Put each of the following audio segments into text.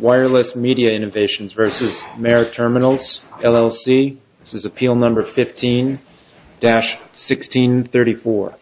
Wireless Media Innovations v. Maher Terminals, LLC Maher Terminals, LLC This is appeal number 15-1634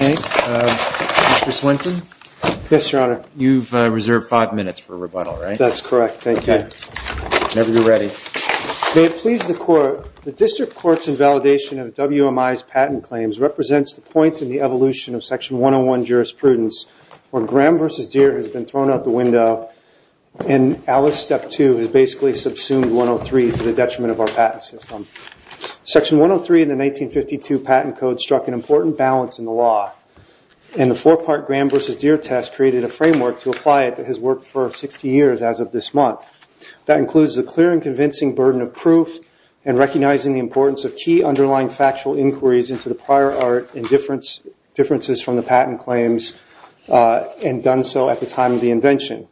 Mr. Swenson Yes, Your Honor You've reserved five minutes for rebuttal, right? That's correct, thank you. Whenever you're ready. May it please the Court, the District Court's invalidation of WMI's patent claims represents the point in the evolution of Section 101 jurisprudence where Graham v. Deere has been thrown out the window and Alice Step 2 has basically subsumed 103 to the detriment of our patent system. Section 103 in the 1952 patent code struck an important balance in the law and the four-part Graham v. Deere test created a framework to apply it that has worked for 60 years as of this month. That includes the clear and convincing burden of proof and recognizing the importance of key underlying factual inquiries into the prior art and differences from the patent claims and done so at the time of the invention.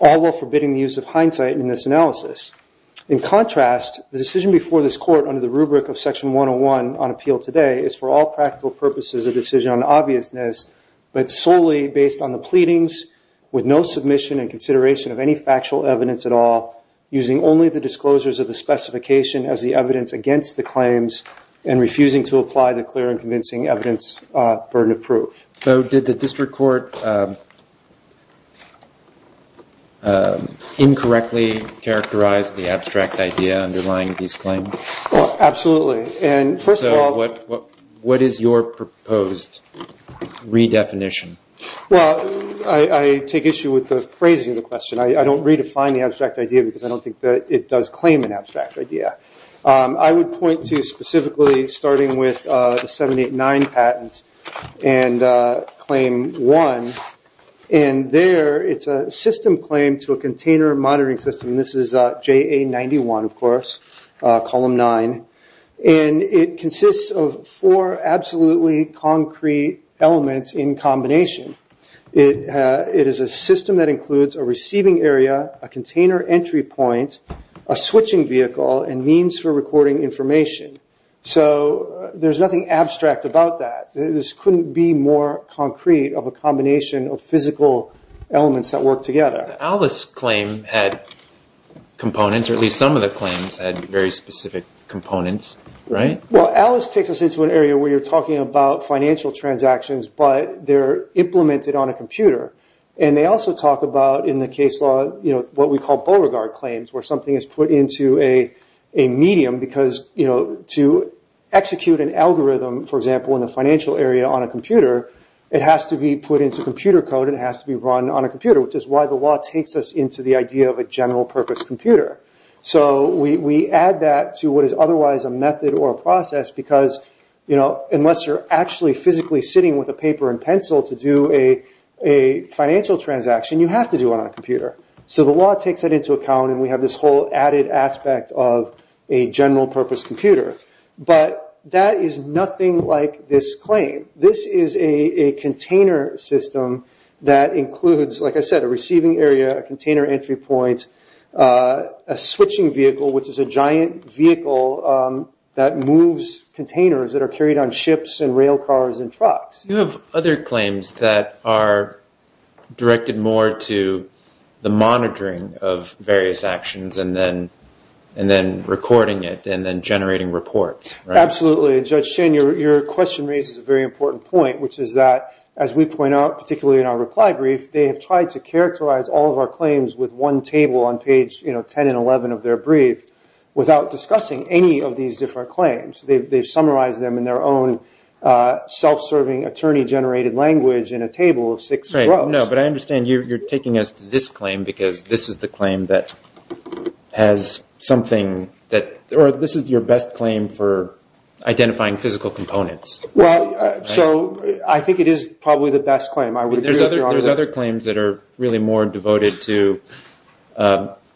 All while forbidding the use of hindsight in this analysis. In contrast, the decision before this Court under the rubric of Section 101 on appeal today is for all practical purposes a decision on obviousness but solely based on the pleadings with no submission and consideration of any factual evidence at all using only the disclosures of the specification as the evidence against the claims and refusing to apply the clear and convincing evidence burden of proof. Did the District Court incorrectly characterize the abstract idea underlying these claims? Absolutely. What is your proposed redefinition? I take issue with the phrasing of the question. I don't redefine the abstract idea because I don't think that it does claim an abstract idea. I would point to specifically starting with the 789 patents and claim 1. There, it is a system claim to a container monitoring system. This is JA 91, of course, column 9. It consists of four absolutely concrete elements in combination. It is a system that includes a receiving area, a container entry point, a switching vehicle, and means for recording information. So there's nothing abstract about that. This couldn't be more concrete of a combination of physical elements that work together. Alice's claim had components, or at least some of the claims had very specific components, right? Alice takes us into an area where you're talking about financial transactions, but they're implemented on a computer. They also talk about, in the case law, what we call Beauregard claims, where something is put into a medium. To execute an algorithm, for example, in the financial area on a computer, it has to be put into computer code and it has to be run on a computer, which is why the law takes us into the idea of a general-purpose computer. We add that to what is otherwise a method or a process, because unless you're actually physically sitting with a paper and pencil to do a financial transaction, you have to do it on a computer. So the law takes that into account, and we have this whole added aspect of a general-purpose computer. But that is nothing like this claim. This is a container system that includes, like I said, a receiving area, a container entry point, a switching vehicle, which is a giant vehicle that moves containers that are carried on ships and rail cars and trucks. You have other claims that are directed more to the monitoring of various actions and then recording it and then generating reports, right? Absolutely. Judge Shin, your question raises a very important point, which is that, as we point out, particularly in our reply brief, they have tried to characterize all of our claims with one table on page 10 and 11 of their brief without discussing any of these different claims. They've summarized them in their own self-serving, attorney-generated language in a table of six rows. Well, no, but I understand you're taking us to this claim because this is the claim that has something that – or this is your best claim for identifying physical components. Well, so I think it is probably the best claim. There's other claims that are really more devoted to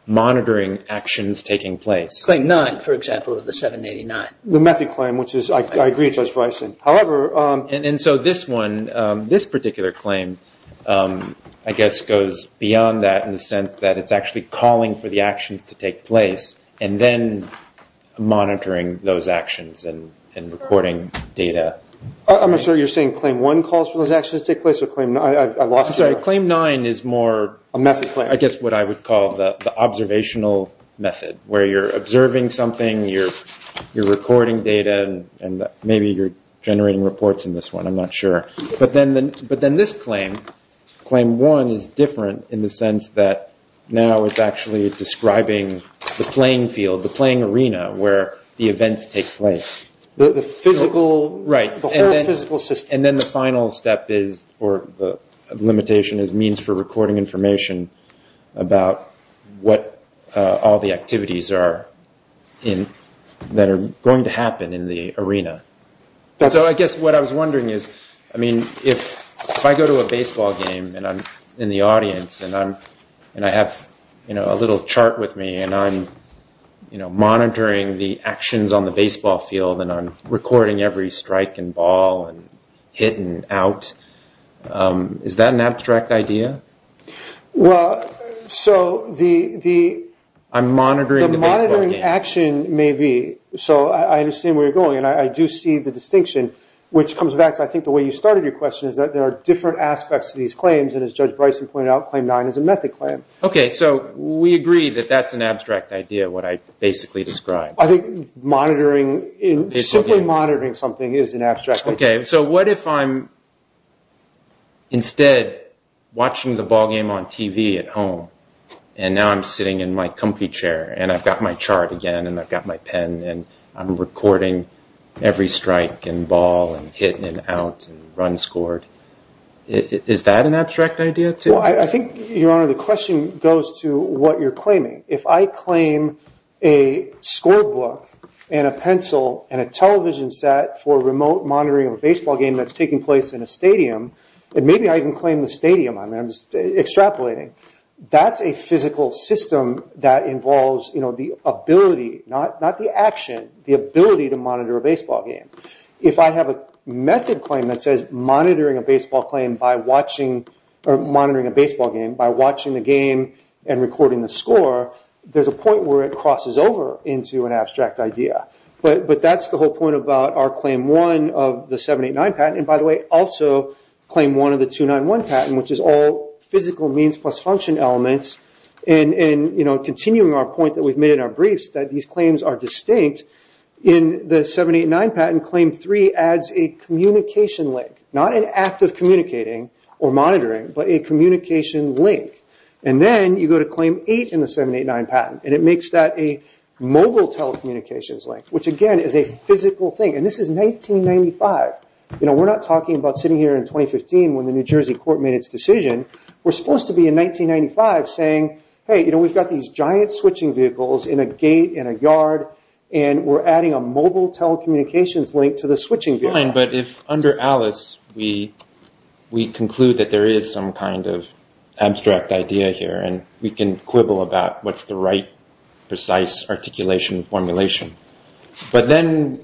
monitoring actions taking place. Claim nine, for example, of the 789. The method claim, which is – I agree, Judge Bryson. And so this one, this particular claim, I guess goes beyond that in the sense that it's actually calling for the actions to take place and then monitoring those actions and recording data. I'm not sure you're saying claim one calls for those actions to take place or claim – I lost you there. I'm sorry, claim nine is more – A method claim. I guess what I would call the observational method, where you're observing something, you're recording data, and maybe you're generating reports in this one. I'm not sure. But then this claim, claim one, is different in the sense that now it's actually describing the playing field, the playing arena where the events take place. The physical – Right. The whole physical system. And then the final step is – or the limitation is means for recording information about what all the activities are in – that are going to happen in the arena. So I guess what I was wondering is, I mean, if I go to a baseball game and I'm in the audience and I have a little chart with me and I'm monitoring the actions on the baseball field and I'm recording every strike and ball and hit and out, is that an abstract idea? Well, so the – I'm monitoring the baseball game. The monitoring action may be – so I understand where you're going. And I do see the distinction, which comes back to, I think, the way you started your question, is that there are different aspects to these claims. And as Judge Bryson pointed out, claim nine is a method claim. Okay. So we agree that that's an abstract idea, what I basically described. I think monitoring – simply monitoring something is an abstract idea. Okay. So what if I'm instead watching the ball game on TV at home and now I'm sitting in my comfy chair and I've got my chart again and I've got my pen and I'm recording every strike and ball and hit and out and run scored? Is that an abstract idea too? Well, I think, Your Honor, the question goes to what you're claiming. If I claim a scorebook and a pencil and a television set for remote monitoring of a baseball game that's taking place in a stadium, and maybe I can claim the stadium, I'm extrapolating, that's a physical system that involves the ability – not the action, the ability to monitor a baseball game. If I have a method claim that says monitoring a baseball game by watching the game and recording the score, there's a point where it crosses over into an abstract idea. But that's the whole point about our claim one of the 789 patent. And, by the way, also claim one of the 291 patent, which is all physical means plus function elements. And, you know, continuing our point that we've made in our briefs, that these claims are distinct, in the 789 patent, claim three adds a communication link. Not an act of communicating or monitoring, but a communication link. And then you go to claim eight in the 789 patent, and it makes that a mobile telecommunications link, which, again, is a physical thing. And this is 1995. You know, we're not talking about sitting here in 2015 when the New Jersey court made its decision. We're supposed to be in 1995 saying, hey, you know, we've got these giant switching vehicles in a gate, in a yard, and we're adding a mobile telecommunications link to the switching vehicle. Fine, but if under Alice we conclude that there is some kind of abstract idea here, and we can quibble about what's the right precise articulation formulation. But then,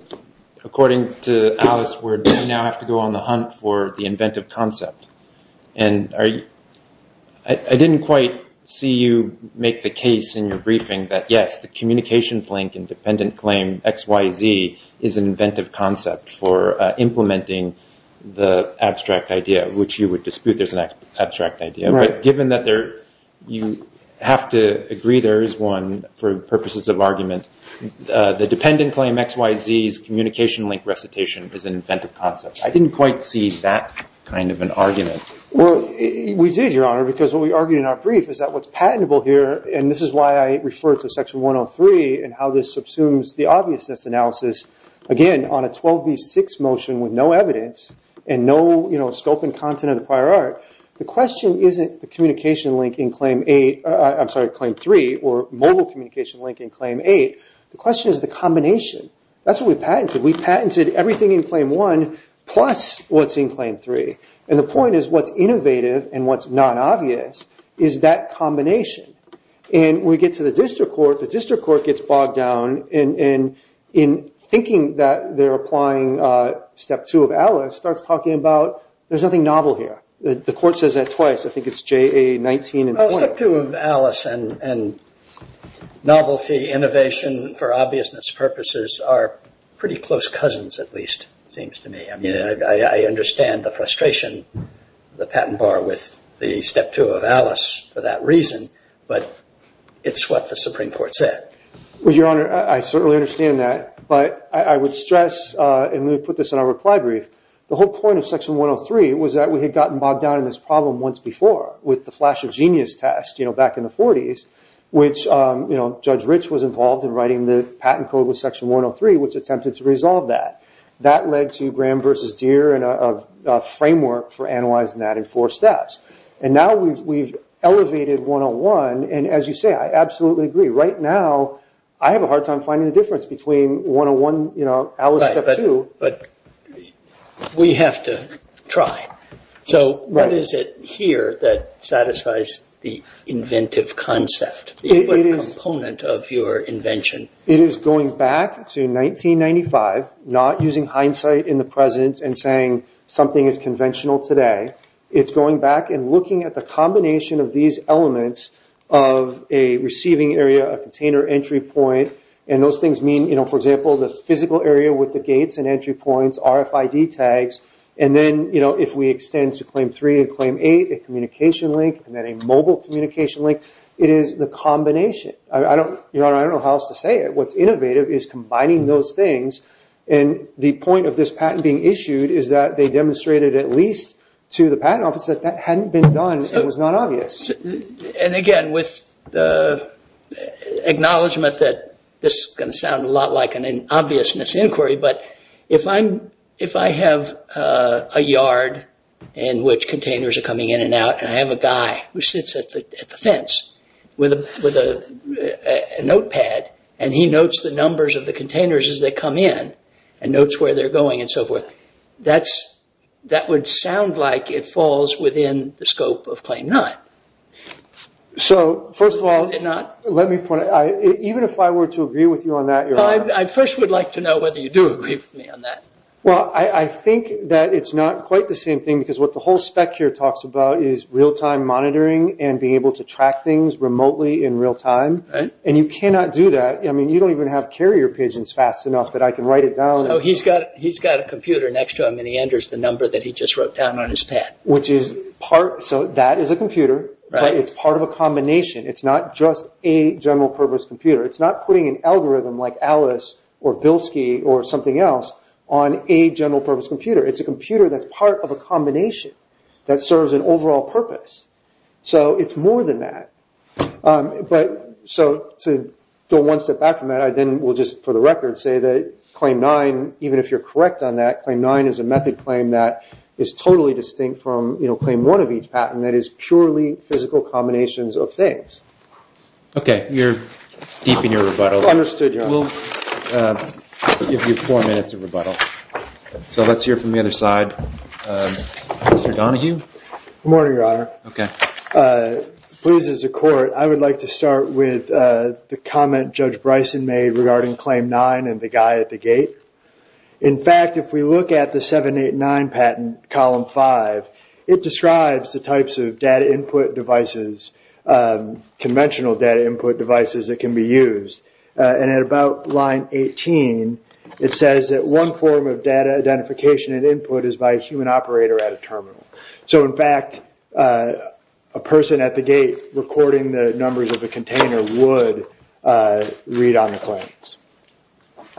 according to Alice, we now have to go on the hunt for the inventive concept. And I didn't quite see you make the case in your briefing that, yes, the communications link in dependent claim XYZ is an inventive concept for implementing the abstract idea, which you would dispute there's an abstract idea. But given that you have to agree there is one for purposes of argument, the dependent claim XYZ's communication link recitation is an inventive concept. I didn't quite see that kind of an argument. Well, we did, Your Honor, because what we argued in our brief is that what's patentable here, and this is why I refer to Section 103 and how this subsumes the obviousness analysis, again, on a 12B6 motion with no evidence and no scope and content of the prior art, the question isn't the communication link in Claim 3 or mobile communication link in Claim 8. The question is the combination. That's what we patented. We patented everything in Claim 1 plus what's in Claim 3. And the point is what's innovative and what's non-obvious is that combination. And we get to the district court. The district court gets bogged down in thinking that they're applying Step 2 of ALICE, starts talking about there's nothing novel here. The court says that twice. I think it's JA19 and point. Step 2 of ALICE and novelty innovation for obviousness purposes are pretty close cousins, at least, it seems to me. I mean, I understand the frustration, the patent bar with the Step 2 of ALICE for that reason, but it's what the Supreme Court said. Well, Your Honor, I certainly understand that. But I would stress, and we put this in our reply brief, the whole point of Section 103 was that we had gotten bogged down in this problem once before with the flash of genius test back in the 40s, which Judge Rich was involved in writing the patent code with Section 103, which attempted to resolve that. That led to Graham v. Deere and a framework for analyzing that in four steps. And now we've elevated 101. And as you say, I absolutely agree. Right now, I have a hard time finding the difference between 101, you know, ALICE Step 2. But we have to try. So what is it here that satisfies the inventive concept? What component of your invention? It is going back to 1995, not using hindsight in the present and saying something is conventional today. It's going back and looking at the combination of these elements of a receiving area, a container entry point, and those things mean, you know, for example, the physical area with the gates and entry points, RFID tags. And then, you know, if we extend to Claim 3 and Claim 8, a communication link, and then a mobile communication link, it is the combination. I don't know how else to say it. What's innovative is combining those things. And the point of this patent being issued is that they demonstrated at least to the patent office that that hadn't been done and was not obvious. And again, with the acknowledgement that this is going to sound a lot like an obvious misinquiry, but if I have a yard in which containers are coming in and out, and I have a guy who sits at the fence with a notepad and he notes the numbers of the containers as they come in and notes where they're going and so forth, that would sound like it falls within the scope of Claim 9. So, first of all, let me point out, even if I were to agree with you on that, you're right. I first would like to know whether you do agree with me on that. Well, I think that it's not quite the same thing because what the whole spec here talks about is real-time monitoring and being able to track things remotely in real time. And you cannot do that. I mean, you don't even have carrier pigeons fast enough that I can write it down. So he's got a computer next to him and he enters the number that he just wrote down on his pad. So that is a computer. It's part of a combination. It's not just a general-purpose computer. It's not putting an algorithm like Alice or Bilski or something else on a general-purpose computer. It's a computer that's part of a combination that serves an overall purpose. So it's more than that. So to go one step back from that, I then will just, for the record, say that Claim 9, even if you're correct on that, Claim 9 is a method claim that is totally distinct from Claim 1 of each patent that is purely physical combinations of things. Okay, you're deep in your rebuttal. We'll give you four minutes of rebuttal. So let's hear from the other side. Mr. Donahue? Good morning, Your Honor. Okay. Please, as a court, I would like to start with the comment Judge Bryson made regarding Claim 9 and the guy at the gate. In fact, if we look at the 789 patent, Column 5, it describes the types of data input devices, conventional data input devices that can be used. And at about line 18, it says that one form of data identification and input is by a human operator at a terminal. So, in fact, a person at the gate recording the numbers of the container would read on the claims.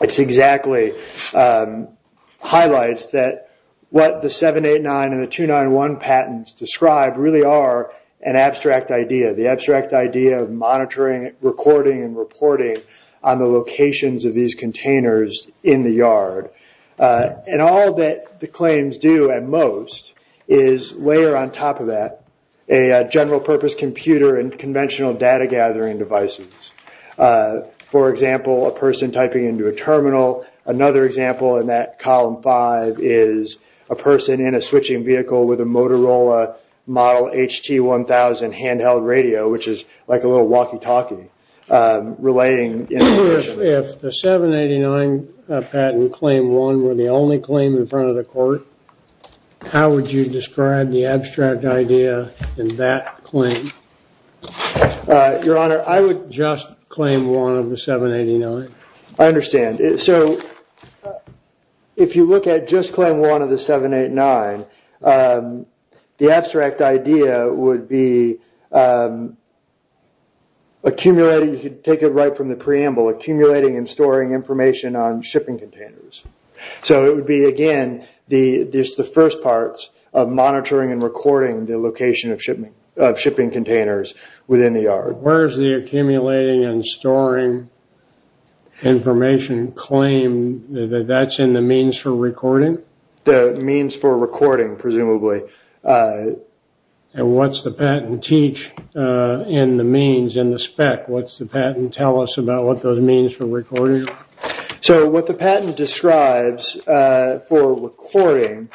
It's exactly highlights that what the 789 and the 291 patents describe really are an abstract idea, the abstract idea of monitoring, recording, and reporting on the locations of these containers in the yard. And all that the claims do at most is layer on top of that a general purpose computer and conventional data gathering devices. For example, a person typing into a terminal. Another example in that Column 5 is a person in a switching vehicle with a Motorola model HT-1000 handheld radio, which is like a little walkie-talkie relating information. If the 789 patent Claim 1 were the only claim in front of the court, how would you describe the abstract idea in that claim? Your Honor, I would just claim one of the 789. I understand. So, if you look at just Claim 1 of the 789, the abstract idea would be accumulating, you could take it right from the preamble, accumulating and storing information on shipping containers. So, it would be, again, just the first parts of monitoring and recording the location of shipping containers within the yard. Where is the accumulating and storing information claim? That's in the means for recording? The means for recording, presumably. And what's the patent teach in the means, in the spec? What's the patent tell us about what those means for recording are? So, what the patent describes for recording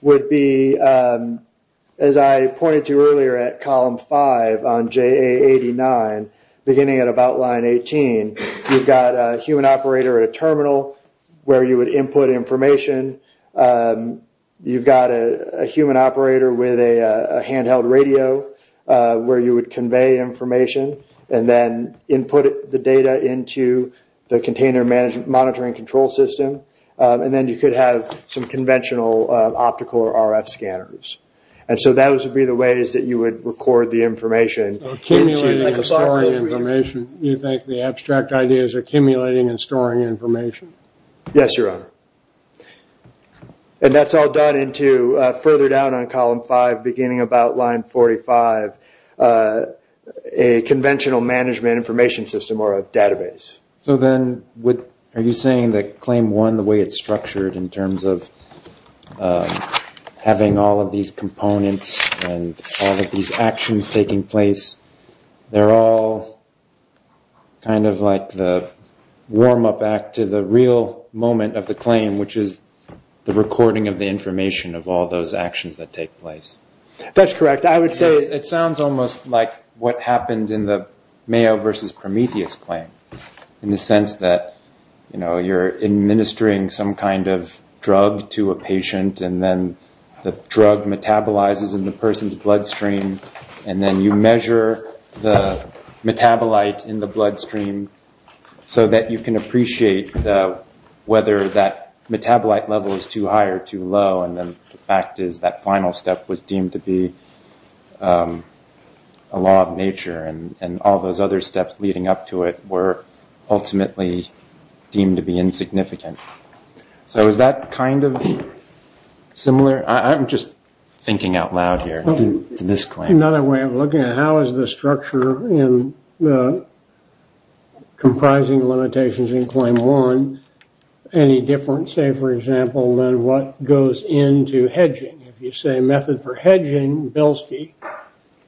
would be, as I pointed to earlier at column 5 on JA89, beginning at about line 18, you've got a human operator at a terminal where you would input information. You've got a human operator with a handheld radio where you would convey information and then input the data into the container monitoring control system. And then you could have some conventional optical or RF scanners. And so, those would be the ways that you would record the information. Accumulating and storing information. You think the abstract idea is accumulating and storing information? Yes, Your Honor. And that's all done into, further down on column 5, beginning about line 45, a conventional management information system or a database. So then, are you saying that claim 1, the way it's structured in terms of having all of these components and all of these actions taking place, they're all kind of like the warm-up act to the real moment of the claim, which is the recording of the information of all those actions that take place? That's correct. I would say... It sounds almost like what happened in the Mayo versus Prometheus claim, in the sense that you're administering some kind of drug to a patient and then the drug metabolizes in the person's bloodstream and then you measure the metabolite in the bloodstream so that you can appreciate whether that metabolite level is too high or too low. And then the fact is that final step was deemed to be a law of nature. And all those other steps leading up to it were ultimately deemed to be insignificant. So is that kind of similar? I'm just thinking out loud here to this claim. Another way of looking at it, how is the structure in the comprising limitations in claim 1 any different, say, for example, than what goes into hedging? If you say method for hedging, Belsky,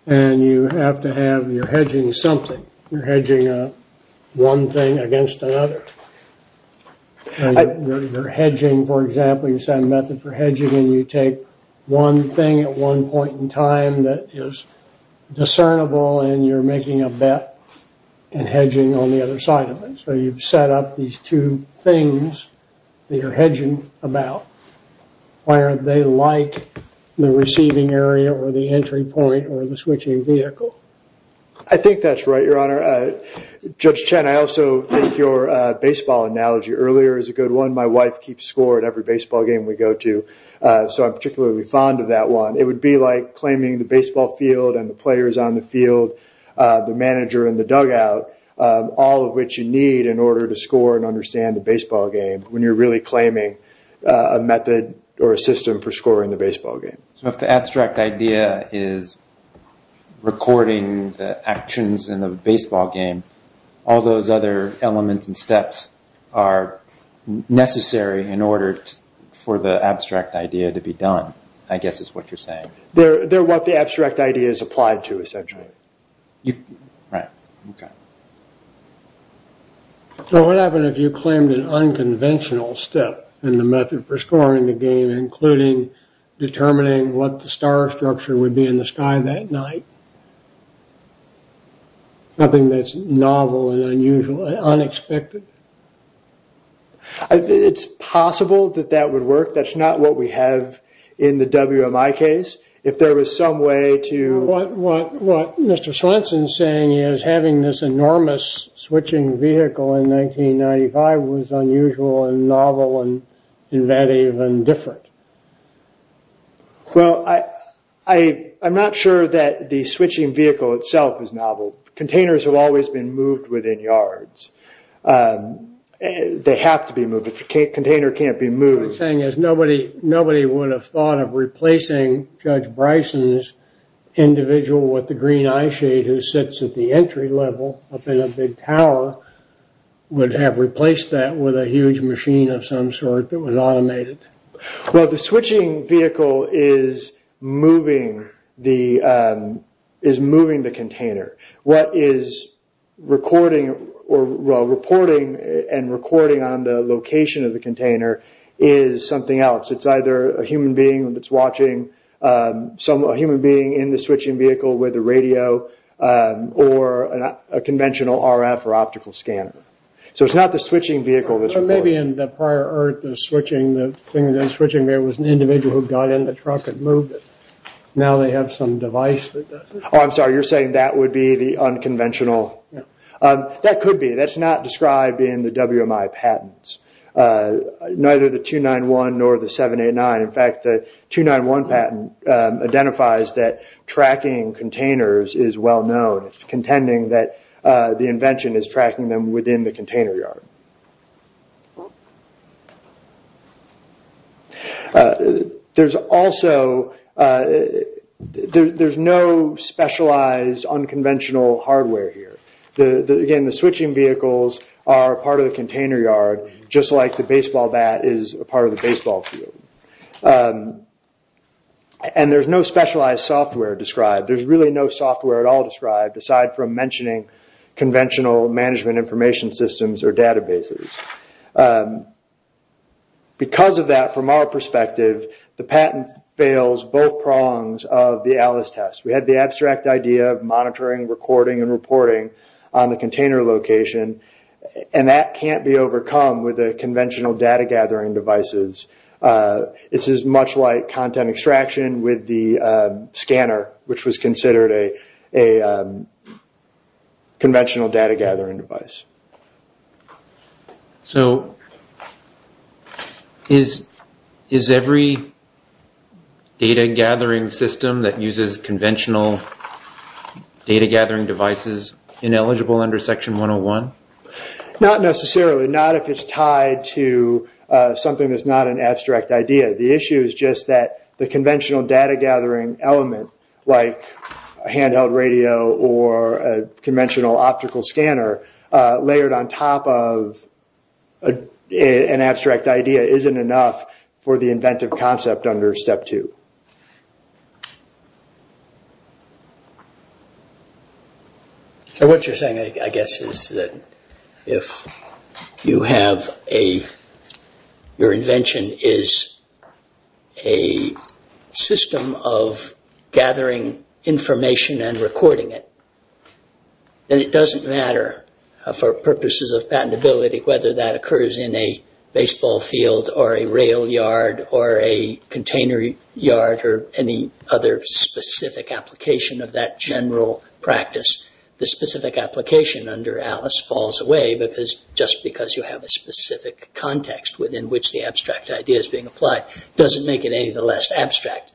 and you have to have, you're hedging something. You're hedging one thing against another. You're hedging, for example, you say method for hedging and you take one thing at one point in time that is discernible and you're making a bet and hedging on the other side of it. So you've set up these two things that you're hedging about. Why aren't they like the receiving area or the entry point or the switching vehicle? I think that's right, Your Honor. Judge Chen, I also think your baseball analogy earlier is a good one. My wife keeps score at every baseball game we go to, so I'm particularly fond of that one. It would be like claiming the baseball field and the players on the field, the manager and the dugout, all of which you need in order to score and understand the baseball game when you're really claiming a method or a system for scoring the baseball game. So if the abstract idea is recording the actions in the baseball game, all those other elements and steps are necessary in order for the abstract idea to be done, I guess is what you're saying. They're what the abstract idea is applied to, essentially. Right. Okay. So what happened if you claimed an unconventional step in the method for scoring the game, including determining what the star structure would be in the sky that night, something that's novel and unusual and unexpected? It's possible that that would work. That's not what we have in the WMI case. What Mr. Swenson is saying is having this enormous switching vehicle in 1995 was unusual and novel and different. Well, I'm not sure that the switching vehicle itself is novel. Containers have always been moved within yards. They have to be moved. A container can't be moved. What you're saying is nobody would have thought of replacing Judge Bryson's individual with the green eyeshade who sits at the entry level up in a big tower would have replaced that with a huge machine of some sort that was automated. Well, the switching vehicle is moving the container. What is reporting and recording on the location of the container is something else. It's either a human being that's watching, a human being in the switching vehicle with a radio, or a conventional RF or optical scanner. So it's not the switching vehicle that's recording. Or maybe in the prior EARTH, the thing that was switching, there was an individual who got in the truck and moved it. Now they have some device that does it. I'm sorry, you're saying that would be the unconventional? That could be. That's not described in the WMI patents. Neither the 291 nor the 789. In fact, the 291 patent identifies that tracking containers is well known. It's contending that the invention is tracking them within the container yard. There's also no specialized unconventional hardware here. Again, the switching vehicles are part of the container yard, just like the baseball bat is part of the baseball field. And there's no specialized software described. There's really no software at all described, aside from mentioning conventional management information systems or databases. Because of that, from our perspective, the patent fails both prongs of the ALICE test. We had the abstract idea of monitoring, recording, and reporting on the container location, and that can't be overcome with conventional data gathering devices. This is much like content extraction with the scanner, which was considered a conventional data gathering device. So is every data gathering system that uses conventional data gathering devices ineligible under Section 101? Not necessarily. Not if it's tied to something that's not an abstract idea. The issue is just that the conventional data gathering element, like a handheld radio or a conventional optical scanner, layered on top of an abstract idea isn't enough for the inventive concept under Step 2. What you're saying, I guess, is that if your invention is a system of gathering information and recording it, then it doesn't matter for purposes of patentability whether that occurs in a baseball field or a rail yard or a container yard or any other specific application of that general practice. The specific application under ALICE falls away because just because you have a specific context within which the abstract idea is being applied doesn't make it any the less abstract.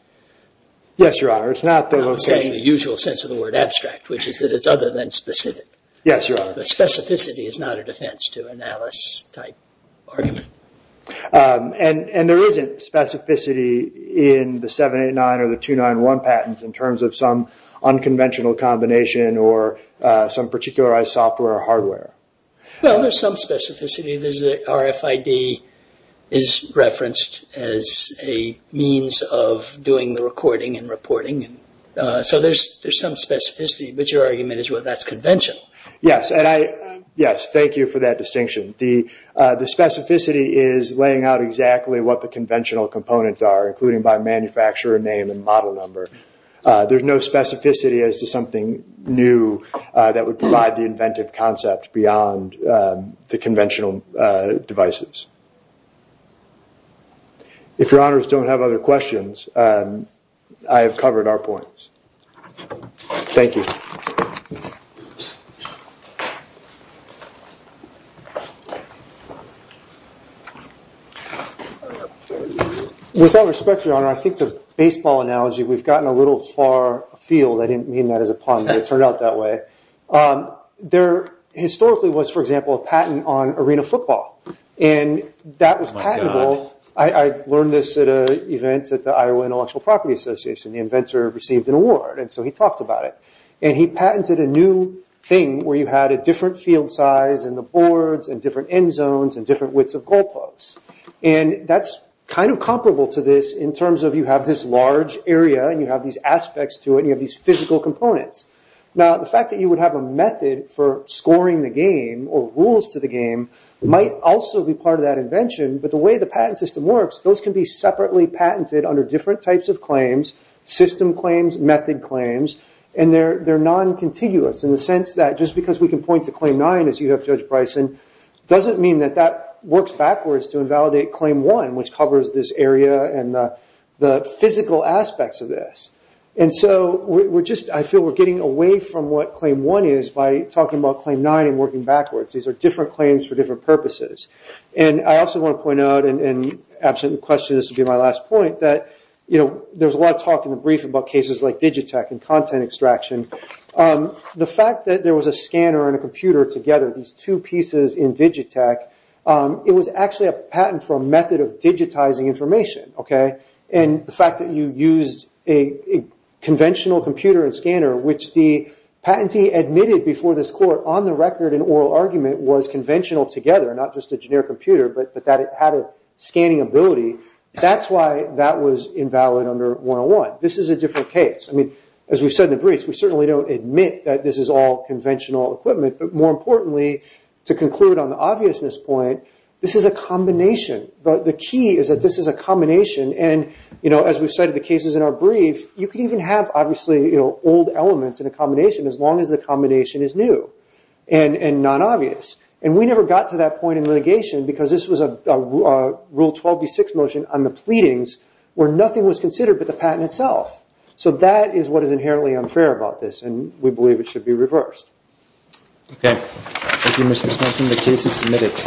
Yes, Your Honor. It's not the usual sense of the word abstract, which is that it's other than specific. Yes, Your Honor. But specificity is not a defense to an ALICE-type argument. And there isn't specificity in the 789 or the 291 patents in terms of some unconventional combination or some particularized software or hardware. Well, there's some specificity. RFID is referenced as a means of doing the recording and reporting. So there's some specificity, but your argument is that's conventional. Yes, thank you for that distinction. The specificity is laying out exactly what the conventional components are, including by manufacturer name and model number. There's no specificity as to something new that would provide the inventive concept beyond the conventional devices. If Your Honors don't have other questions, I have covered our points. Thank you. With all respect, Your Honor, I think the baseball analogy, we've gotten a little far afield. I didn't mean that as a pun, but it turned out that way. There historically was, for example, a patent on arena football. And that was patentable. I learned this at an event at the Iowa Intellectual Property Association. The inventor received an award, and so he talked about it. And he patented a new thing where you had a different field size in the boards and different end zones and different widths of goal posts. And that's kind of comparable to this in terms of you have this large area and you have these aspects to it and you have these physical components. Now, the fact that you would have a method for scoring the game or rules to the game might also be part of that invention. But the way the patent system works, those can be separately patented under different types of claims, system claims, method claims. And they're non-contiguous in the sense that just because we can point to Claim 9 as you have, Judge Bryson, doesn't mean that that works backwards to invalidate Claim 1, which covers this area and the physical aspects of this. And so I feel we're getting away from what Claim 1 is by talking about Claim 9 and working backwards. These are different claims for different purposes. And I also want to point out, and absent the question, this will be my last point, that there's a lot of talk in the brief about cases like Digitech and content extraction. The fact that there was a scanner and a computer together, these two pieces in Digitech, it was actually a patent for a method of digitizing information. And the fact that you used a conventional computer and scanner, which the patentee admitted before this court on the record in oral argument was conventional together, not just a generic computer, but that it had a scanning ability, that's why that was invalid under 101. This is a different case. As we've said in the briefs, we certainly don't admit that this is all conventional equipment. But more importantly, to conclude on the obviousness point, this is a combination. The key is that this is a combination. And as we've said in the cases in our brief, you can even have, obviously, old elements in a combination as long as the combination is new and non-obvious. And we never got to that point in litigation because this was a Rule 12b-6 motion on the pleadings where nothing was considered but the patent itself. So that is what is inherently unfair about this, and we believe it should be reversed. Okay. Thank you, Mr. Smith.